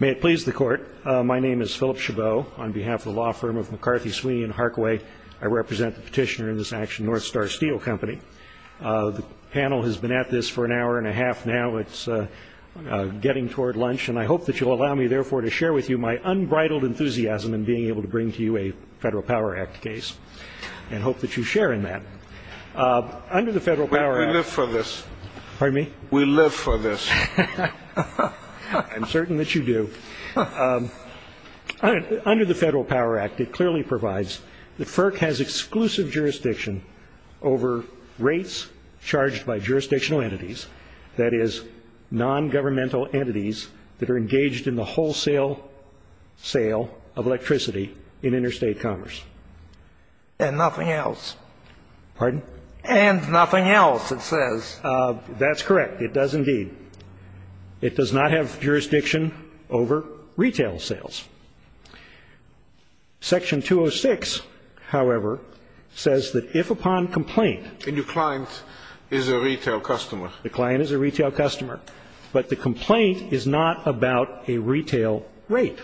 May it please the Court. My name is Philip Chabot. On behalf of the law firm of McCarthy, Sweeney & Harkaway, I represent the petitioner in this action, North Star Steel Co. The panel has been at this for an hour and a half now. It's getting toward lunch. And I hope that you'll allow me, therefore, to share with you my unbridled enthusiasm in being able to bring to you a Federal Power Act case and hope that you share in that. Under the Federal Power Act… We live for this. Pardon me? We live for this. I'm certain that you do. Under the Federal Power Act, it clearly provides that FERC has exclusive jurisdiction over rates charged by jurisdictional entities, that is, non-governmental entities that are engaged in the wholesale sale of electricity in interstate commerce. And nothing else. Pardon? And nothing else, it says. That's correct. It does indeed. It does not have jurisdiction over retail sales. Section 206, however, says that if upon complaint… A new client is a retail customer. The client is a retail customer. But the complaint is not about a retail rate.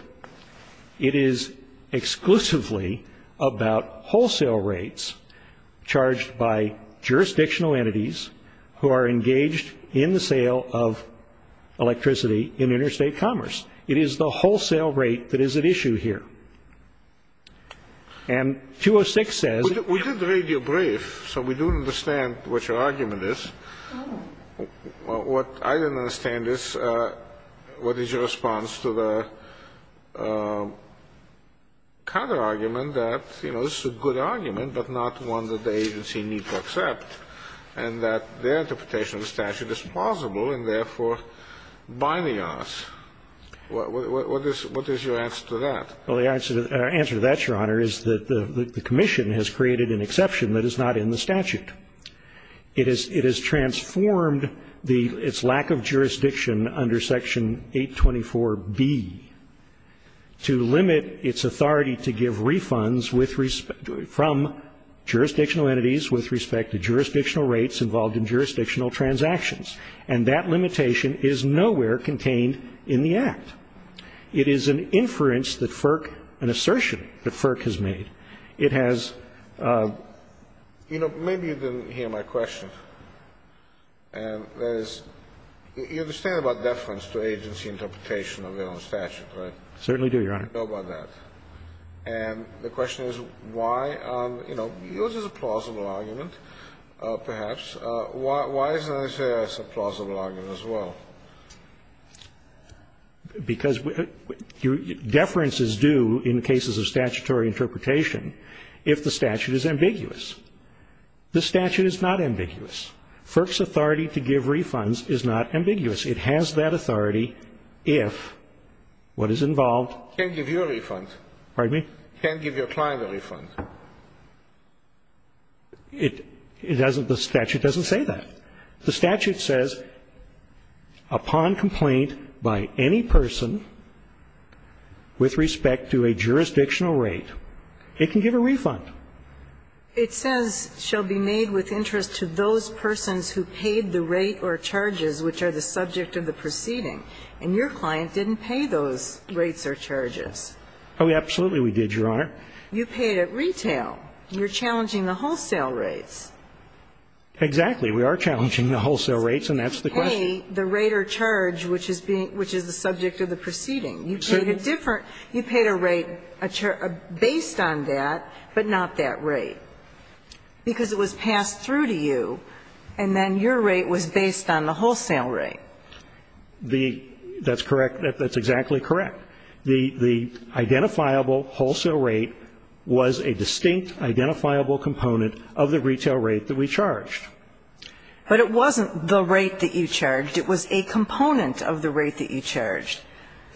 It is exclusively about wholesale rates charged by jurisdictional entities who are engaged in the sale of electricity in interstate commerce. It is the wholesale rate that is at issue here. And 206 says… We did the radio brief, so we do understand what your argument is. What I didn't understand is what is your response to the counterargument that, you know, this is a good argument, but not one that the agency need to accept, and that their interpretation of the statute is plausible and therefore binding on us. What is your answer to that? Well, the answer to that, Your Honor, is that the commission has created an exception that is not in the statute. It has transformed its lack of jurisdiction under Section 824B to limit its authority to give refunds from jurisdictional entities with respect to jurisdictional rates involved in jurisdictional transactions. And that limitation is nowhere contained in the Act. It is an inference that FERC, an assertion that FERC has made. It has… You know, maybe you didn't hear my question. And that is, you understand about deference to agency interpretation of their own statute, right? I certainly do, Your Honor. I know about that. And the question is why, you know, yours is a plausible argument, perhaps. Why isn't it a plausible argument as well? Because deference is due in cases of statutory interpretation if the statute is ambiguous. The statute is not ambiguous. FERC's authority to give refunds is not ambiguous. It has that authority if what is involved… Can't give you a refund. Pardon me? Can't give your client a refund. It doesn't – the statute doesn't say that. The statute says upon complaint by any person with respect to a jurisdictional rate, it can give a refund. It says shall be made with interest to those persons who paid the rate or charges which are the subject of the proceeding. And your client didn't pay those rates or charges. Oh, absolutely we did, Your Honor. You paid at retail. You're challenging the wholesale rates. Exactly. We are challenging the wholesale rates, and that's the question. You paid the rate or charge which is being – which is the subject of the proceeding. Proceeding? You paid a different – you paid a rate based on that, but not that rate. Because it was passed through to you, and then your rate was based on the wholesale rate. The – that's correct. That's exactly correct. The – the identifiable wholesale rate was a distinct identifiable component of the retail rate that we charged. But it wasn't the rate that you charged. It was a component of the rate that you charged.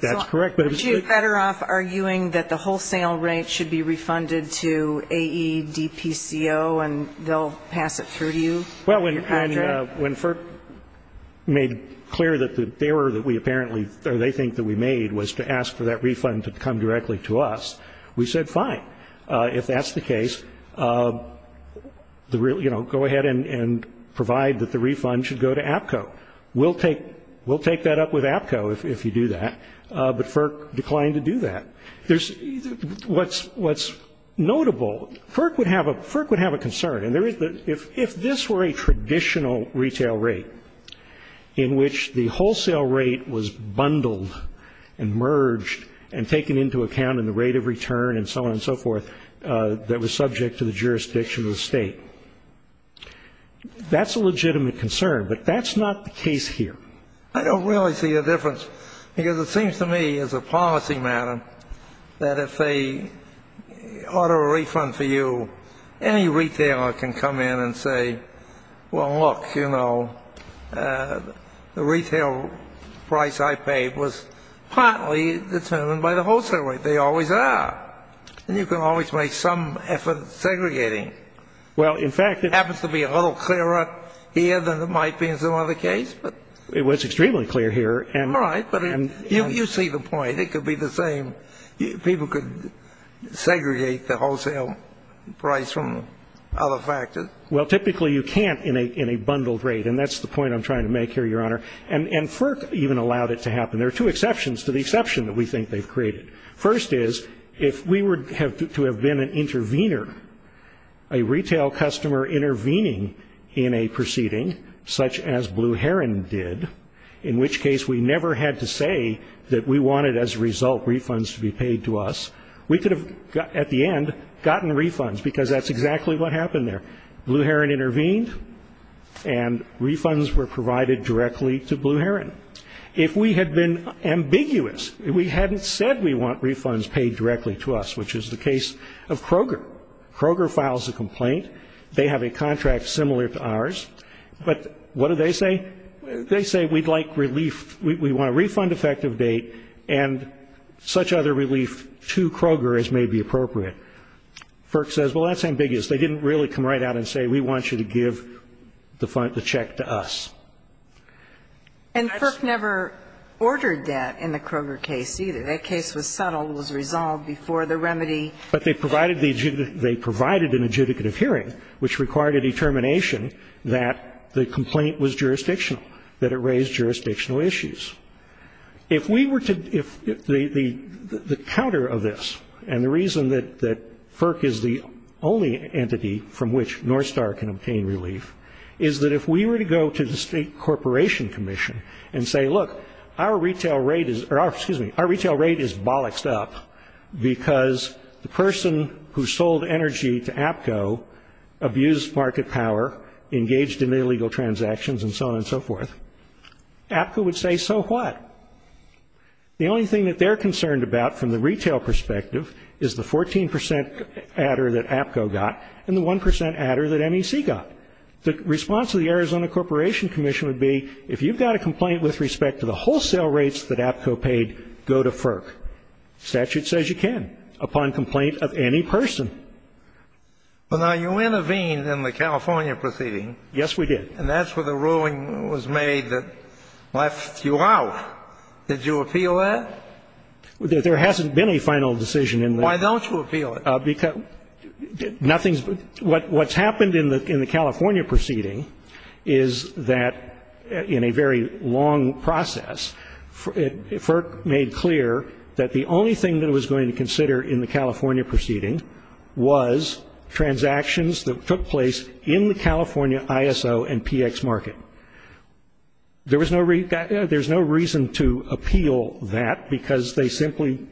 That's correct, but it's the – So are you better off arguing that the wholesale rate should be refunded to AEDPCO and they'll pass it through to you, Your Honor? Well, when FERP made clear that the error that we apparently – or they think that we made was to ask for that refund to come directly to us, we said fine. If that's the case, the – you know, go ahead and provide that the refund should go to AEDPCO. We'll take – we'll take that up with AEDPCO if you do that, but FERP declined to do that. There's – what's – what's notable, FERP would have a – FERP would have a concern, and there is – if this were a traditional retail rate in which the wholesale rate was bundled and merged and taken into account in the rate of that was subject to the jurisdiction of the state. That's a legitimate concern, but that's not the case here. I don't really see a difference, because it seems to me as a policy matter that if they order a refund for you, any retailer can come in and say, well, look, you know, the retail price I paid was partly determined by the wholesale rate. They always are. And you can always make some effort segregating. Well, in fact – It happens to be a little clearer here than it might be in some other case, but – It was extremely clear here, and – All right, but you see the point. It could be the same. People could segregate the wholesale price from other factors. Well, typically you can't in a bundled rate, and that's the point I'm trying to make here, Your Honor. And FERP even allowed it to happen. There are two exceptions to the exception that we think they've created. First is, if we were to have been an intervener, a retail customer intervening in a proceeding such as Blue Heron did, in which case we never had to say that we wanted as a result refunds to be paid to us, we could have at the end gotten refunds, because that's exactly what happened there. Blue Heron intervened, and refunds were provided directly to Blue Heron. If we had been ambiguous, we hadn't said we want refunds paid directly to us, which is the case of Kroger. Kroger files a complaint. They have a contract similar to ours. But what do they say? They say we'd like relief. We want a refund effective date and such other relief to Kroger as may be appropriate. FERP says, well, that's ambiguous. They didn't really come right out and say we want you to give the check to us. And FERP never ordered that in the Kroger case, either. That case was settled, was resolved before the remedy. But they provided the adjudicative. They provided an adjudicative hearing, which required a determination that the complaint was jurisdictional, that it raised jurisdictional issues. If we were to the counter of this, and the reason that FERP is the only entity from which Northstar can obtain relief, is that if we were to go to the State Corporation Commission and say, look, our retail rate is bollocked up because the person who sold energy to APCO abused market power, engaged in illegal transactions, and so on and so forth, APCO would say, so what? The only thing that they're concerned about from the retail perspective is the 14% adder that APCO got and the 1% adder that MEC got. The response of the Arizona Corporation Commission would be, if you've got a complaint with respect to the wholesale rates that APCO paid, go to FERP. Statute says you can upon complaint of any person. Kennedy. Well, now, you intervened in the California proceeding. Yes, we did. And that's where the ruling was made that left you out. Did you appeal that? There hasn't been a final decision in the law. Why don't you appeal it? What's happened in the California proceeding is that in a very long process, FERP made clear that the only thing that it was going to consider in the California proceeding was transactions that took place in the California ISO and PX market. There was no reason to appeal that because they simply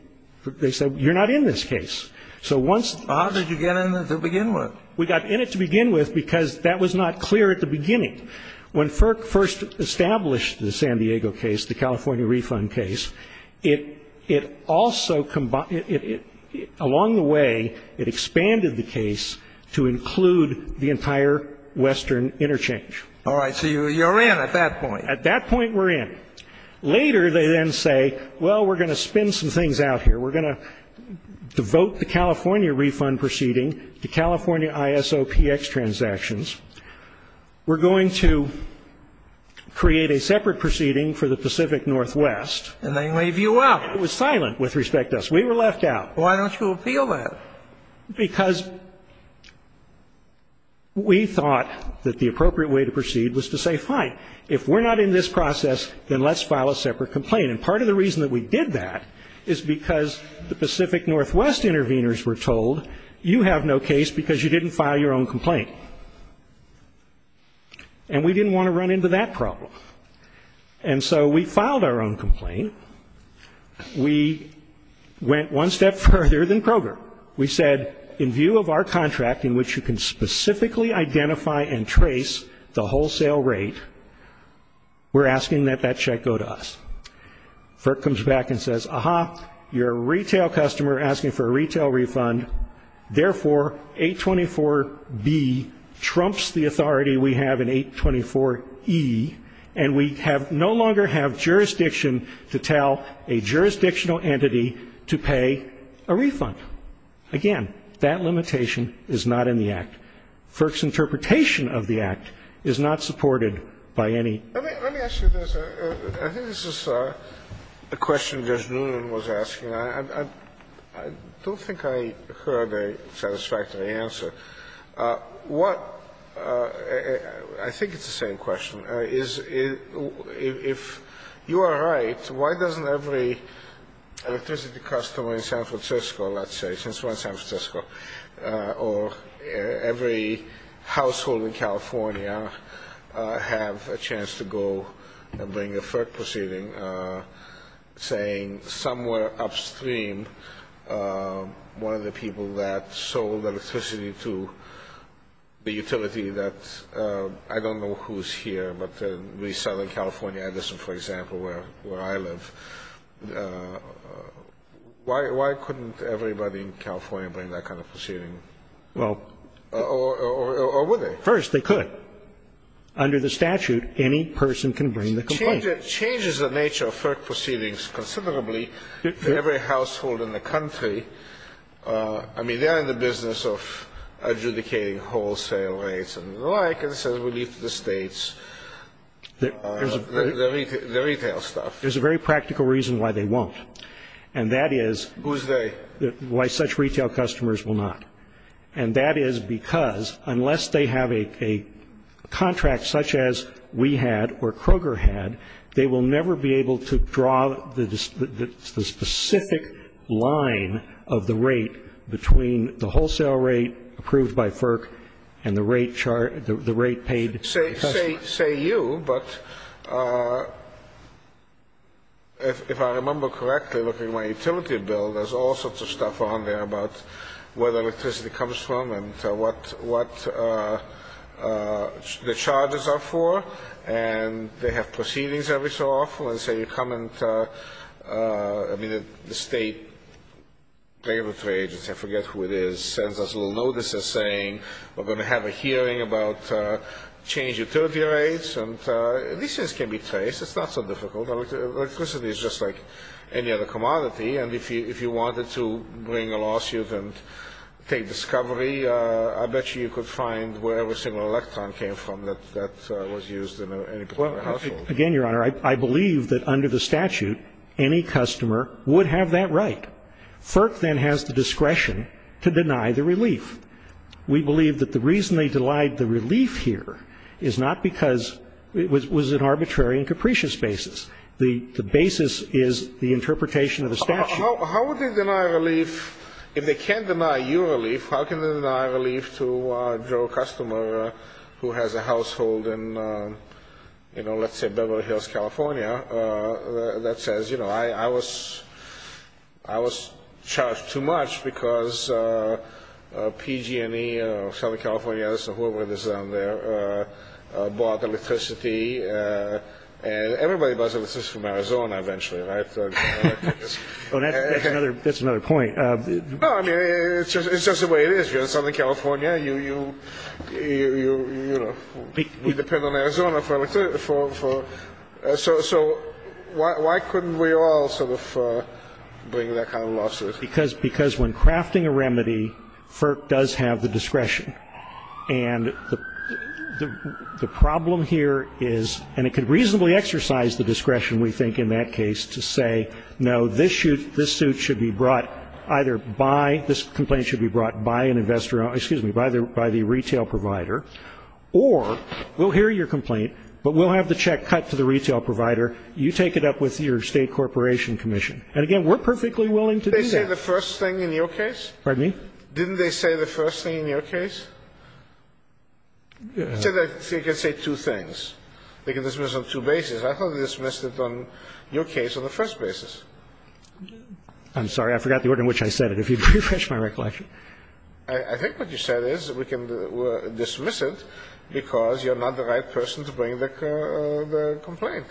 said, you're not in this case. How did you get in it to begin with? We got in it to begin with because that was not clear at the beginning. When FERP first established the San Diego case, the California refund case, along the way it expanded the case to include the entire Western interchange. All right. So you're in at that point. At that point, we're in. Later, they then say, well, we're going to spin some things out here. We're going to devote the California refund proceeding to California ISO PX transactions. We're going to create a separate proceeding for the Pacific Northwest. And they leave you out. It was silent with respect to us. We were left out. Why don't you appeal that? Because we thought that the appropriate way to proceed was to say, fine, if we're not in this process, then let's file a separate complaint. And part of the reason that we did that is because the Pacific Northwest interveners were told, you have no case because you didn't file your own complaint. And we didn't want to run into that problem. And so we filed our own complaint. We went one step further than Kroger. We said, in view of our contract in which you can specifically identify and trace the wholesale rate, we're asking that that check go to us. FERC comes back and says, aha, you're a retail customer asking for a retail refund. Therefore, 824B trumps the authority we have in 824E. And we no longer have jurisdiction to tell a jurisdictional entity to pay a refund. And FERC's interpretation of the Act is not supported by any. Let me ask you this. I think this is a question Judge Noonan was asking. I don't think I heard a satisfactory answer. What ‑‑ I think it's the same question. If you are right, why doesn't every electricity customer in San Francisco, let's say, or every household in California have a chance to go and bring a FERC proceeding, saying somewhere upstream one of the people that sold electricity to the utility that, I don't know who's here, but in southern California, Edison, for example, where I live, why couldn't everybody in California bring that kind of proceeding? Or would they? First, they could. Under the statute, any person can bring the complaint. It changes the nature of FERC proceedings considerably for every household in the country. I mean, they're in the business of adjudicating wholesale rates and the like, and it says we leave it to the states, the retail stuff. There's a very practical reason why they won't, and that is ‑‑ Who's they? Why such retail customers will not. And that is because unless they have a contract such as we had or Kroger had, they will never be able to draw the specific line of the rate between the wholesale I won't say you, but if I remember correctly, looking at my utility bill, there's all sorts of stuff on there about where the electricity comes from and what the charges are for, and they have proceedings every so often. Let's say you come and, I mean, the state regulatory agency, I forget who it is, sends us a little notice saying we're going to have a hearing about change utility rates, and these things can be traced. It's not so difficult. Electricity is just like any other commodity, and if you wanted to bring a lawsuit and take discovery, I bet you you could find wherever a single electron came from that was used in any particular household. Again, Your Honor, I believe that under the statute, any customer would have that right. FERC then has the discretion to deny the relief. We believe that the reason they denied the relief here is not because it was an arbitrary and capricious basis. The basis is the interpretation of the statute. How would they deny relief? If they can't deny you relief, how can they deny relief to a Joe customer who has a household in, you know, let's say Beverly Hills, California, that says, you know, I was charged too much because PG&E or Southern California or whoever it is down there bought electricity, and everybody buys electricity from Arizona eventually, right? That's another point. No, I mean, it's just the way it is. If you're in Southern California, you know, we depend on Arizona for electricity. So why couldn't we all sort of bring that kind of lawsuit? Because when crafting a remedy, FERC does have the discretion. And the problem here is, and it could reasonably exercise the discretion, we think, in that case to say, no, this suit should be brought either by, this complaint should be brought by an investor, excuse me, by the retail provider, or we'll hear your complaint, but we'll have the check cut to the retail provider. You take it up with your state corporation commission. And, again, we're perfectly willing to do that. They say the first thing in your case? Pardon me? Didn't they say the first thing in your case? I said they can say two things. They can dismiss on two bases. I thought they dismissed it on your case on the first basis. I'm sorry. I forgot the order in which I said it. If you refresh my recollection. I think what you said is we can dismiss it because you're not the right person to bring the complaint.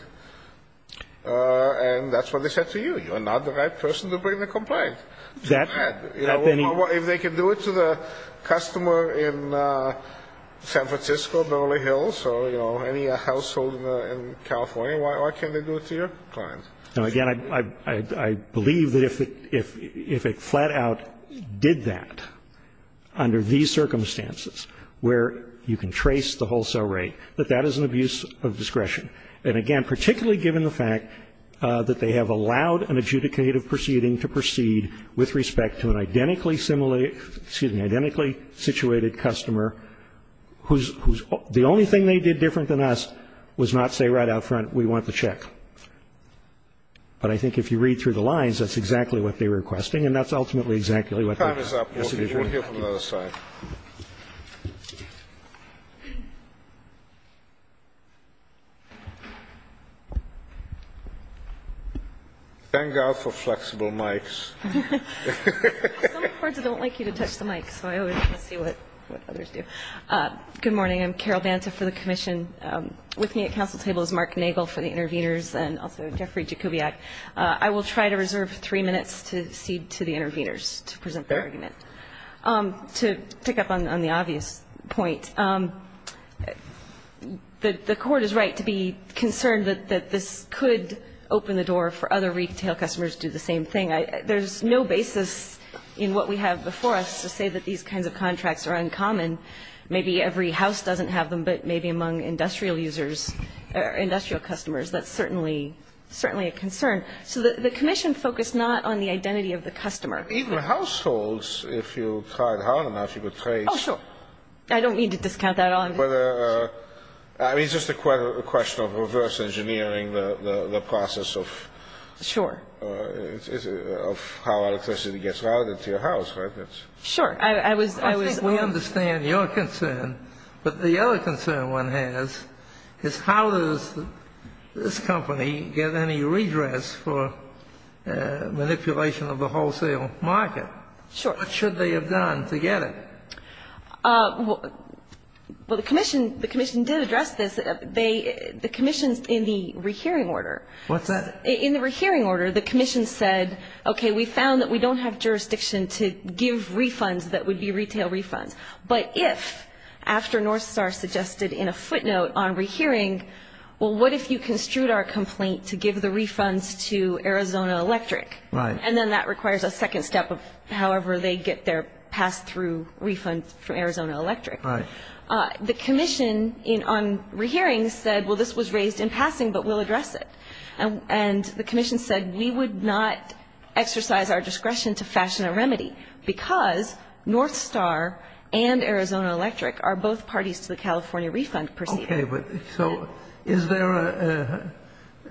And that's what they said to you. You're not the right person to bring the complaint. If they can do it to the customer in San Francisco, Beverly Hills, or, you know, any household in California, why can't they do it to your client? Now, again, I believe that if it flat out did that under these circumstances, where you can trace the wholesale rate, that that is an abuse of discretion. And, again, particularly given the fact that they have allowed an adjudicative proceeding to proceed with respect to an identically situated customer whose only thing they did different than us was not say right out front, we want the check. But I think if you read through the lines, that's exactly what they were requesting, and that's ultimately exactly what they said. Time is up. We'll hear from the other side. Thank God for flexible mics. Some courts don't like you to touch the mic, so I always want to see what others do. Good morning. I'm Carol Banta for the commission. With me at council table is Mark Nagel for the interveners and also Jeffrey Jakubiak. I will try to reserve three minutes to cede to the interveners to present their argument. To pick up on the obvious point, the court is right to be concerned that this could open the door for other retail customers to do the same thing. There's no basis in what we have before us to say that these kinds of contracts are uncommon. Maybe every house doesn't have them, but maybe among industrial users or industrial customers, that's certainly a concern. So the commission focused not on the identity of the customer. Even households, if you tried hard enough, you could trace. Oh, sure. I don't mean to discount that at all. I mean, it's just a question of reverse engineering the process of how electricity gets routed to your house. Sure. I think we understand your concern, but the other concern one has is how does this company get any redress for manipulation of the wholesale market? Sure. What should they have done to get it? Well, the commission did address this. The commission in the rehearing order. What's that? In the rehearing order, the commission said, okay, we found that we don't have jurisdiction to give refunds that would be retail refunds. But if, after North Star suggested in a footnote on rehearing, well, what if you construed our complaint to give the refunds to Arizona Electric? Right. And then that requires a second step of however they get their pass-through refund from Arizona Electric. Right. The commission on rehearing said, well, this was raised in passing, but we'll address it. And the commission said we would not exercise our discretion to fashion a remedy because North Star and Arizona Electric are both parties to the California refund procedure. Okay. So is there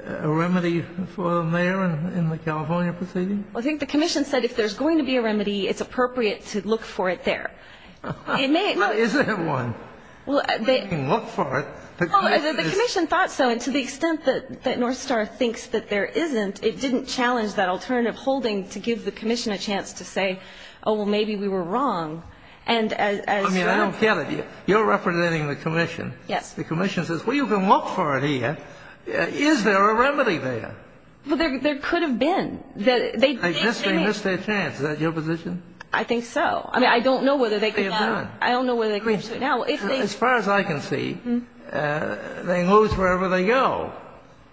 a remedy for the mayor in the California proceeding? I think the commission said if there's going to be a remedy, it's appropriate to look for it there. Is there one? Well, the commission thought so. And to the extent that North Star thinks that there isn't, it didn't challenge that alternative holding to give the commission a chance to say, oh, well, maybe we were wrong. I mean, I don't get it. You're representing the commission. Yes. The commission says, well, you can look for it here. Is there a remedy there? Well, there could have been. I guess they missed their chance. Is that your position? I think so. I mean, I don't know whether they could have done it. I don't know whether they can do it now. As far as I can see, they lose wherever they go.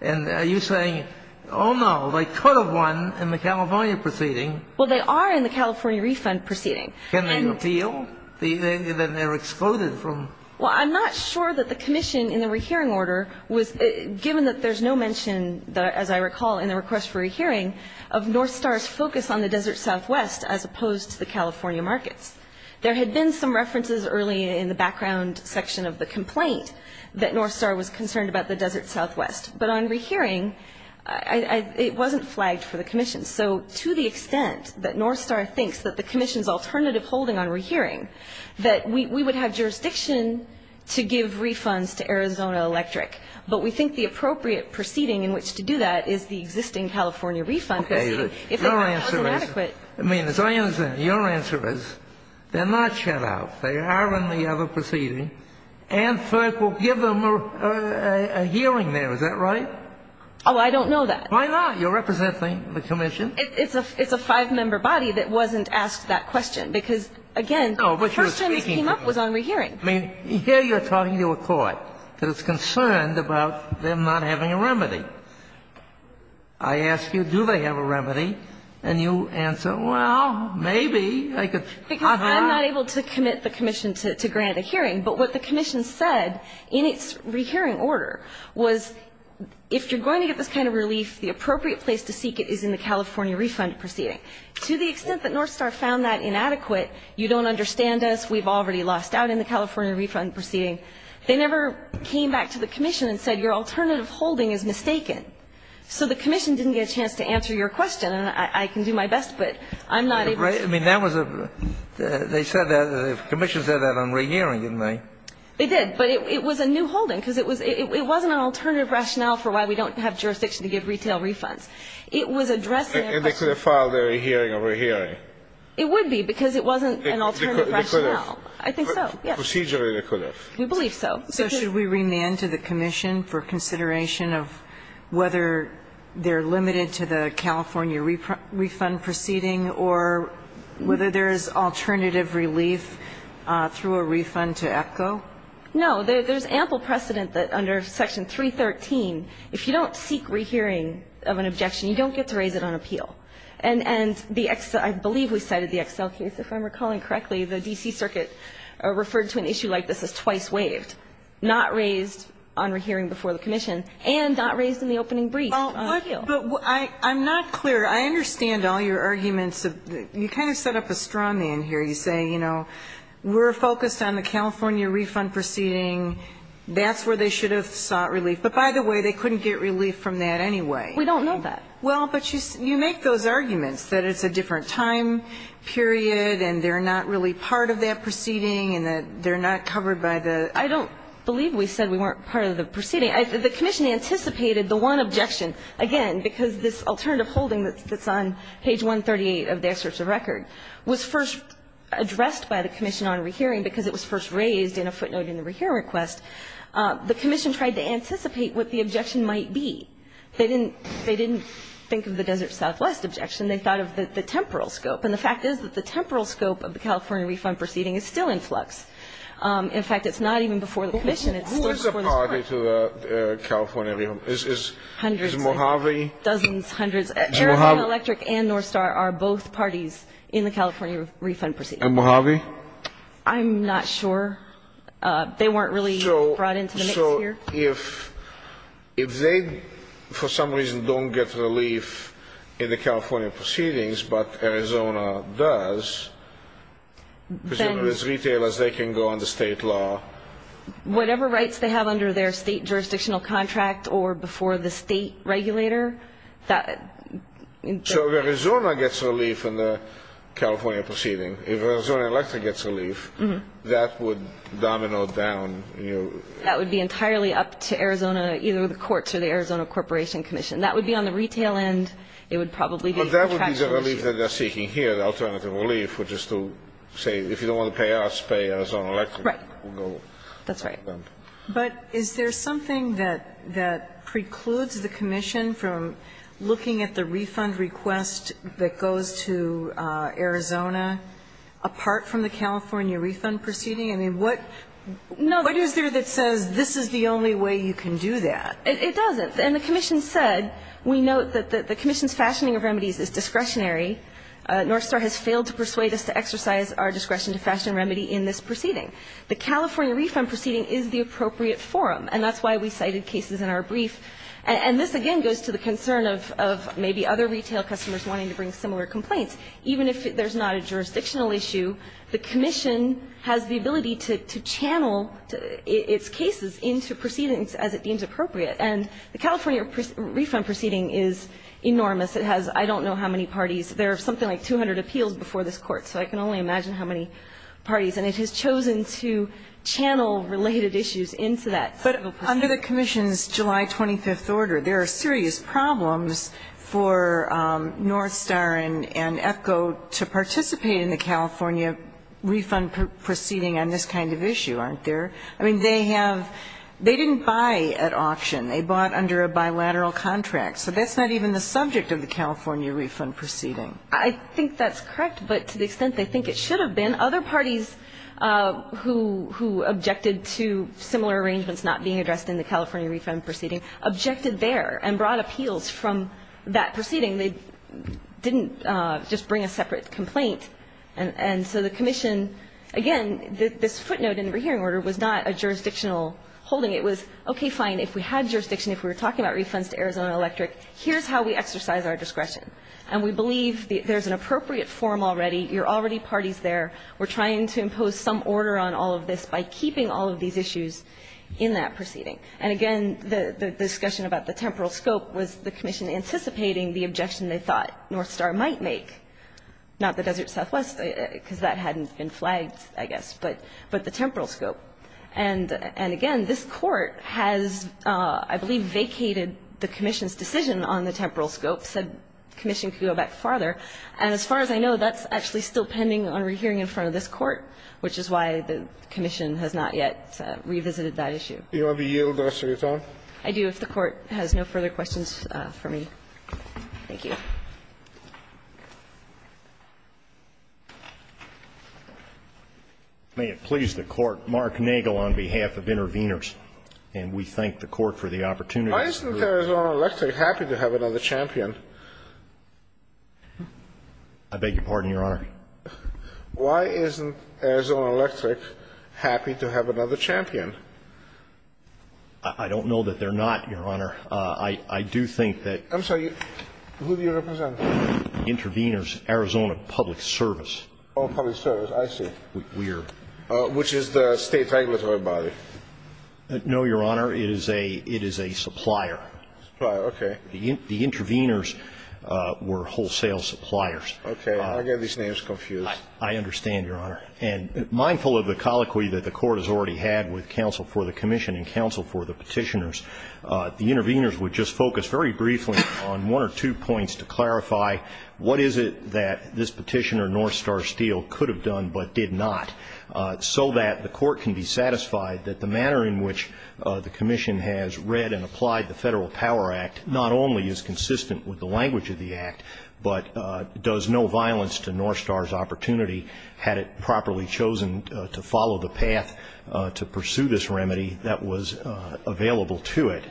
And are you saying, oh, no, they could have won in the California proceeding? Well, they are in the California refund proceeding. Can they appeal? Then they're excluded from. Well, I'm not sure that the commission in the rehearing order was given that there's no mention, as I recall, in the request for a hearing of North Star's focus on the Desert Southwest as opposed to the California markets. There had been some references early in the background section of the complaint that North Star was concerned about the Desert Southwest. But on rehearing, it wasn't flagged for the commission. So to the extent that North Star thinks that the commission's alternative holding on rehearing, that we would have jurisdiction to give refunds to Arizona Electric. But we think the appropriate proceeding in which to do that is the existing California refund proceeding. Okay. Your answer is, I mean, as I understand, your answer is they're not shut out. They are in the other proceeding. And FERC will give them a hearing there. Is that right? Oh, I don't know that. Why not? You're representing the commission. It's a five-member body that wasn't asked that question. And I think that's a good argument, because, again, the first time this came up was on rehearing. I mean, here you're talking to a court that is concerned about them not having a remedy. I ask you, do they have a remedy? And you answer, well, maybe. Because I'm not able to commit the commission to grant a hearing. But what the commission said in its rehearing order was if you're going to get this kind of relief, the appropriate place to seek it is in the California refund proceeding. To the extent that Northstar found that inadequate, you don't understand us. We've already lost out in the California refund proceeding. They never came back to the commission and said your alternative holding is mistaken. So the commission didn't get a chance to answer your question. And I can do my best, but I'm not able to. Right. I mean, that was a they said that, the commission said that on rehearing, didn't they? They did. But it was a new holding, because it wasn't an alternative rationale for why we don't have jurisdiction to give retail refunds. It was addressing a question. And they could have filed their hearing over hearing. It would be, because it wasn't an alternative rationale. I think so, yes. Procedurally, they could have. We believe so. So should we remand to the commission for consideration of whether they're limited to the California refund proceeding or whether there is alternative relief through a refund to EPCO? No. There's ample precedent that under Section 313, if you don't seek rehearing of an objection, you don't get to raise it on appeal. And I believe we cited the Excel case, if I'm recalling correctly. The D.C. Circuit referred to an issue like this as twice waived, not raised on rehearing before the commission, and not raised in the opening brief on appeal. But I'm not clear. I understand all your arguments. You kind of set up a straw man here. You say, you know, we're focused on the California refund proceeding. That's where they should have sought relief. But by the way, they couldn't get relief from that anyway. We don't know that. Well, but you make those arguments that it's a different time period and they're not really part of that proceeding and that they're not covered by the ---- I don't believe we said we weren't part of the proceeding. The commission anticipated the one objection, again, because this alternative holding that's on page 138 of the excerpt of record was first addressed by the commission on rehearing because it was first raised in a footnote in the rehearing request. The commission tried to anticipate what the objection might be. They didn't think of the Desert Southwest objection. They thought of the temporal scope. And the fact is that the temporal scope of the California refund proceeding is still in flux. In fact, it's not even before the commission. It's still before the court. Who is a party to the California refund? Is Mojave? Dozens, hundreds. Arizona Electric and North Star are both parties in the California refund proceeding. And Mojave? I'm not sure. They weren't really brought into the mix here. So if they, for some reason, don't get relief in the California proceedings, but Arizona does, as retailers, they can go under state law. Whatever rights they have under their state jurisdictional contract or before the state regulator. So if Arizona gets relief in the California proceeding, if Arizona Electric gets relief, that would domino down. That would be entirely up to Arizona, either the courts or the Arizona Corporation Commission. That would be on the retail end. It would probably be contractual issues. But that would be the relief that they're seeking here, the alternative relief, which is to say, if you don't want to pay us, pay Arizona Electric. Right. That's right. But is there something that precludes the commission from looking at the refund request that goes to Arizona, apart from the California refund proceeding? I mean, what is there that says this is the only way you can do that? It doesn't. And the commission said, we note that the commission's fashioning of remedies is discretionary. Northstar has failed to persuade us to exercise our discretion to fashion a remedy in this proceeding. The California refund proceeding is the appropriate forum, and that's why we cited cases in our brief. And this, again, goes to the concern of maybe other retail customers wanting to bring similar complaints. Even if there's not a jurisdictional issue, the commission has the ability to channel its cases into proceedings as it deems appropriate. And the California refund proceeding is enormous. It has I don't know how many parties. There are something like 200 appeals before this Court, so I can only imagine how many parties. And it has chosen to channel related issues into that. But under the commission's July 25th order, there are serious problems for Northstar and EPCO to participate in the California refund proceeding on this kind of issue, aren't there? I mean, they have they didn't buy at auction. They bought under a bilateral contract. So that's not even the subject of the California refund proceeding. I think that's correct. But to the extent they think it should have been, other parties who objected to similar arrangements not being addressed in the California refund proceeding objected there and brought appeals from that proceeding. They didn't just bring a separate complaint. And so the commission, again, this footnote in the hearing order was not a jurisdictional holding. It was, okay, fine, if we had jurisdiction, if we were talking about refunds to Arizona Electric, here's how we exercise our discretion. And we believe there's an appropriate form already. You're already parties there. We're trying to impose some order on all of this by keeping all of these issues in that proceeding. And, again, the discussion about the temporal scope was the commission anticipating the objection they thought Northstar might make, not the Desert Southwest, because that hadn't been flagged, I guess, but the temporal scope. And, again, this Court has, I believe, vacated the commission's decision on the temporal scope, said commission could go back farther. And as far as I know, that's actually still pending on rehearing in front of this Court, which is why the commission has not yet revisited that issue. Do you want to be yielded, Mr. Guattaro? I do, if the Court has no further questions for me. Thank you. May it please the Court. Mark Nagel on behalf of Intervenors. And we thank the Court for the opportunity. Why isn't Arizona Electric happy to have another champion? I beg your pardon, Your Honor. Why isn't Arizona Electric happy to have another champion? I don't know that they're not, Your Honor. I do think that — I'm sorry. Who do you represent? Intervenors Arizona Public Service. Oh, public service. I see. Which is the state regulatory body. No, Your Honor. It is a supplier. Supplier. Okay. The intervenors were wholesale suppliers. Okay. I get these names confused. I understand, Your Honor. And mindful of the colloquy that the Court has already had with counsel for the commission and counsel for the petitioners, the intervenors would just focus very briefly on one or two points to clarify what is it that this petitioner, North Star Steel, could have done but did not, so that the Court can be satisfied that the manner in which the commission has read and applied the Federal Power Act not only is consistent with the language of the Act but does no violence to North Star's opportunity, had it properly chosen to follow the path to pursue this remedy that was available to it.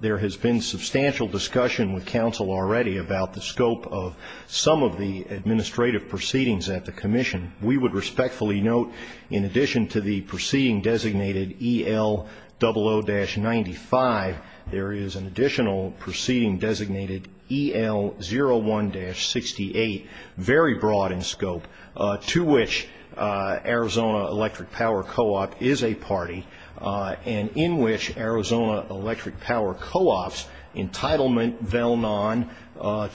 There has been substantial discussion with counsel already about the scope of some of the administrative proceedings at the commission. We would respectfully note, in addition to the proceeding designated EL00-95, there is an additional proceeding designated EL01-68, very broad in scope, to which Arizona Electric Power Co-op is a party and in which Arizona Electric Power Co-op's entitlement, though none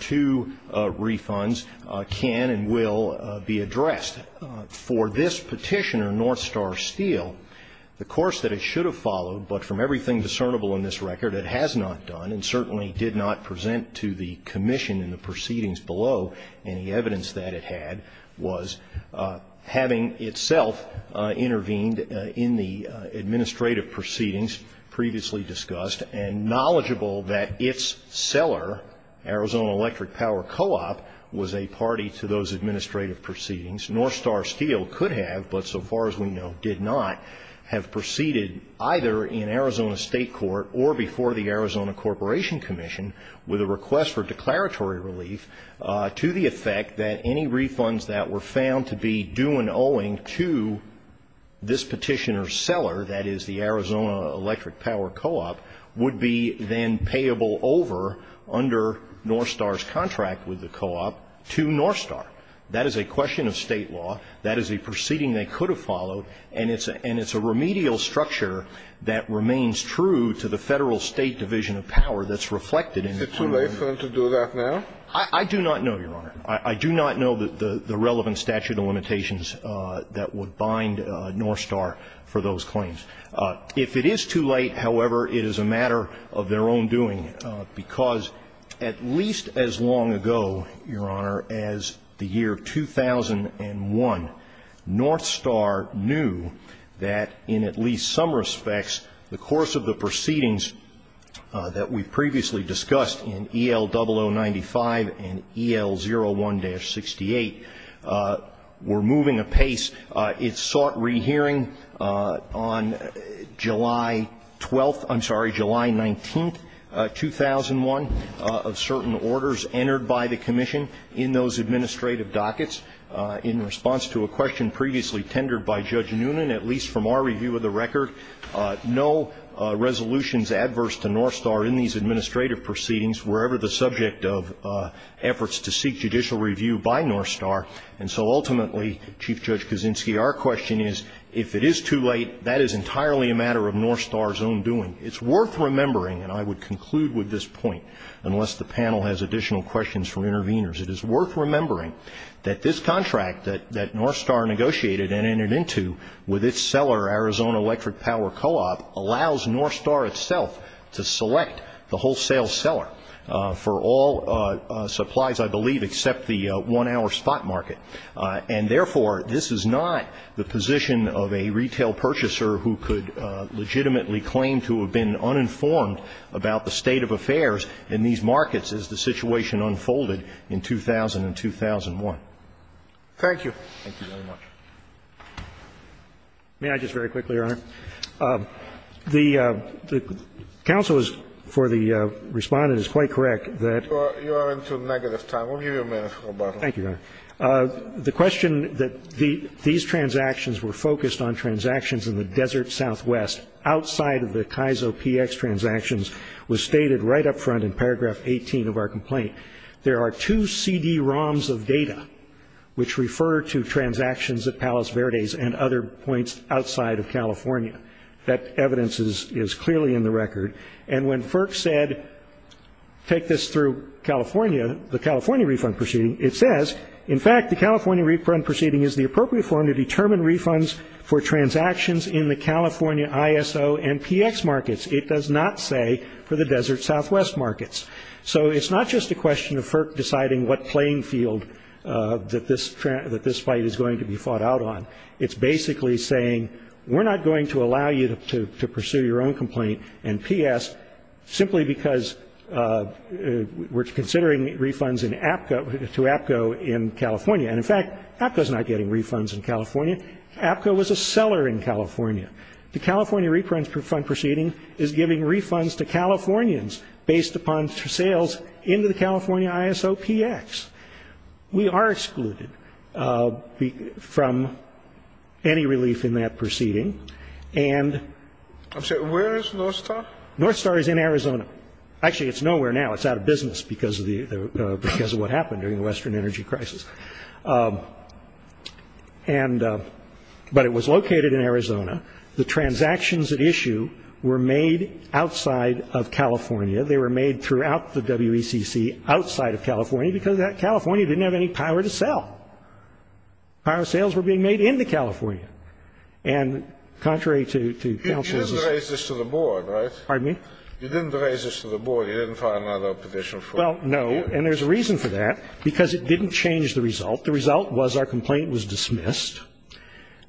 to refunds, can and will be addressed. For this petitioner, North Star Steel, the course that it should have followed, but from everything discernible in this record it has not done and certainly did not present to the commission in the proceedings below any evidence that it had, was having itself intervened in the administrative proceedings previously discussed and knowledgeable that its seller, Arizona Electric Power Co-op, was a party to those administrative proceedings. North Star Steel could have, but so far as we know did not, have proceeded either in Arizona State Court or before the Arizona Corporation Commission with a request for declaratory relief to the effect that any refunds that were found to be due and owing to this petitioner's seller, that is the Arizona Electric Power Co-op, would be then payable over under North Star's contract with the co-op to North Star. That is a question of State law. That is a proceeding they could have followed. And it's a remedial structure that remains true to the Federal State Division of Power that's reflected in the claim. Is it too late for them to do that now? I do not know, Your Honor. I do not know the relevant statute of limitations that would bind North Star for those claims. If it is too late, however, it is a matter of their own doing, because at least as long ago, Your Honor, as the year 2001, North Star knew that in at least some respects the course of the proceedings that we previously discussed in EL0095 and EL01-68 were moving apace. It sought rehearing on July 12th ‑‑ I'm sorry, July 19th, 2001, of certain orders entered by the Commission in those administrative dockets in response to a question previously tendered by Judge Noonan, at least from our review of the record, no resolutions adverse to North Star in these administrative proceedings were ever the subject of efforts to seek judicial review by North Star. And so ultimately, Chief Judge Kuczynski, our question is if it is too late, that is entirely a matter of North Star's own doing. It's worth remembering, and I would conclude with this point, unless the panel has additional questions from interveners, it is worth remembering that this contract that North Star negotiated and entered into with its seller, Arizona Electric Power Co-op, allows North Star itself to select the wholesale seller for all supplies, I believe, except the one-hour spot market. And therefore, this is not the position of a retail purchaser who could legitimately claim to have been uninformed about the state of affairs in these markets as the situation unfolded in 2000 and 2001. Thank you. Thank you very much. May I just very quickly, Your Honor? The counsel for the Respondent is quite correct that ‑‑ You are into negative time. We'll give you a minute, Roberto. Thank you, Your Honor. The question that these transactions were focused on transactions in the desert southwest outside of the Kaizo PX transactions was stated right up front in paragraph 18 of our complaint. There are two CD ROMs of data which refer to transactions at Palos Verdes and other points outside of California. That evidence is clearly in the record. And when FERC said, take this through California, the California refund proceeding, it says, in fact, the California refund proceeding is the appropriate form to determine refunds for transactions in the California ISO and PX markets. It does not say for the desert southwest markets. So it's not just a question of FERC deciding what playing field that this fight is going to be fought out on. It's basically saying we're not going to allow you to pursue your own complaint, and P.S., simply because we're considering refunds to APCO in California. And, in fact, APCO is not getting refunds in California. APCO was a seller in California. The California refund proceeding is giving refunds to Californians based upon sales into the California ISO PX. We are excluded from any relief in that proceeding. And I'm sorry, where is North Star? North Star is in Arizona. Actually, it's nowhere now. It's out of business because of what happened during the Western energy crisis. But it was located in Arizona. The transactions at issue were made outside of California. They were made throughout the WECC outside of California because California didn't have any power to sell. Power sales were being made into California. And contrary to counsel's assumption. You didn't raise this to the board, right? Pardon me? You didn't raise this to the board. You didn't file another petition for it. Well, no, and there's a reason for that, because it didn't change the result. The result was our complaint was dismissed.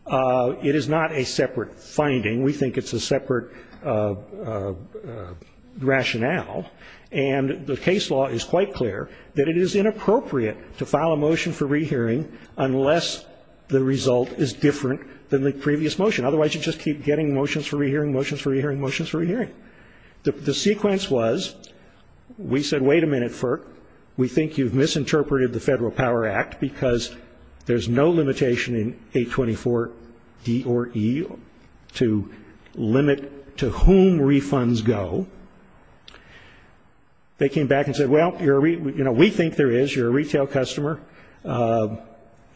It is not a separate finding. We think it's a separate rationale. And the case law is quite clear that it is inappropriate to file a motion for rehearing unless the result is different than the previous motion. Otherwise, you just keep getting motions for rehearing, motions for rehearing, motions for rehearing. The sequence was we said, wait a minute, FERC. We think you've misinterpreted the Federal Power Act because there's no limitation in 824 D or E to limit to whom refunds go. They came back and said, well, you know, we think there is. You're a retail customer.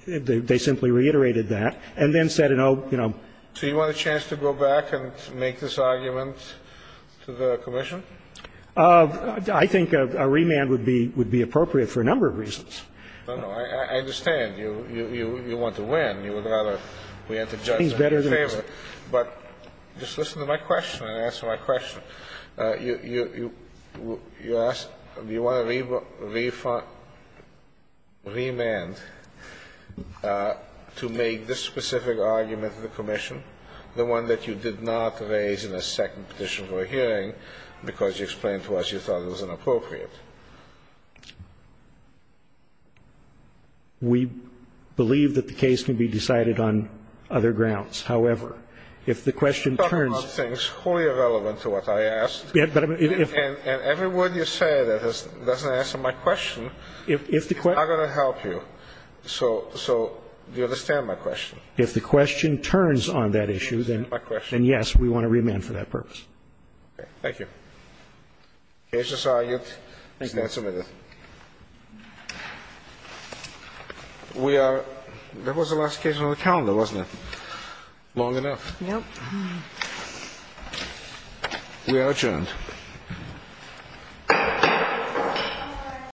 They simply reiterated that. And then said, you know. So you want a chance to go back and make this argument to the commission? I think a remand would be appropriate for a number of reasons. No, no. I understand. You want to win. You would rather we enter judgment in your favor. But just listen to my question and answer my question. You asked, do you want a remand to make this specific argument to the commission, the one that you did not raise in the second petition for a hearing because you explained to us you thought it was inappropriate? We believe that the case can be decided on other grounds. However, if the question turns to you. It's wholly irrelevant to what I asked. And every word you say that doesn't answer my question, I'm going to help you. So do you understand my question? If the question turns on that issue, then yes, we want a remand for that purpose. Thank you. The case is argued. It's not submitted. We are. That was the last case on the calendar, wasn't it? Long enough. No. We are adjourned.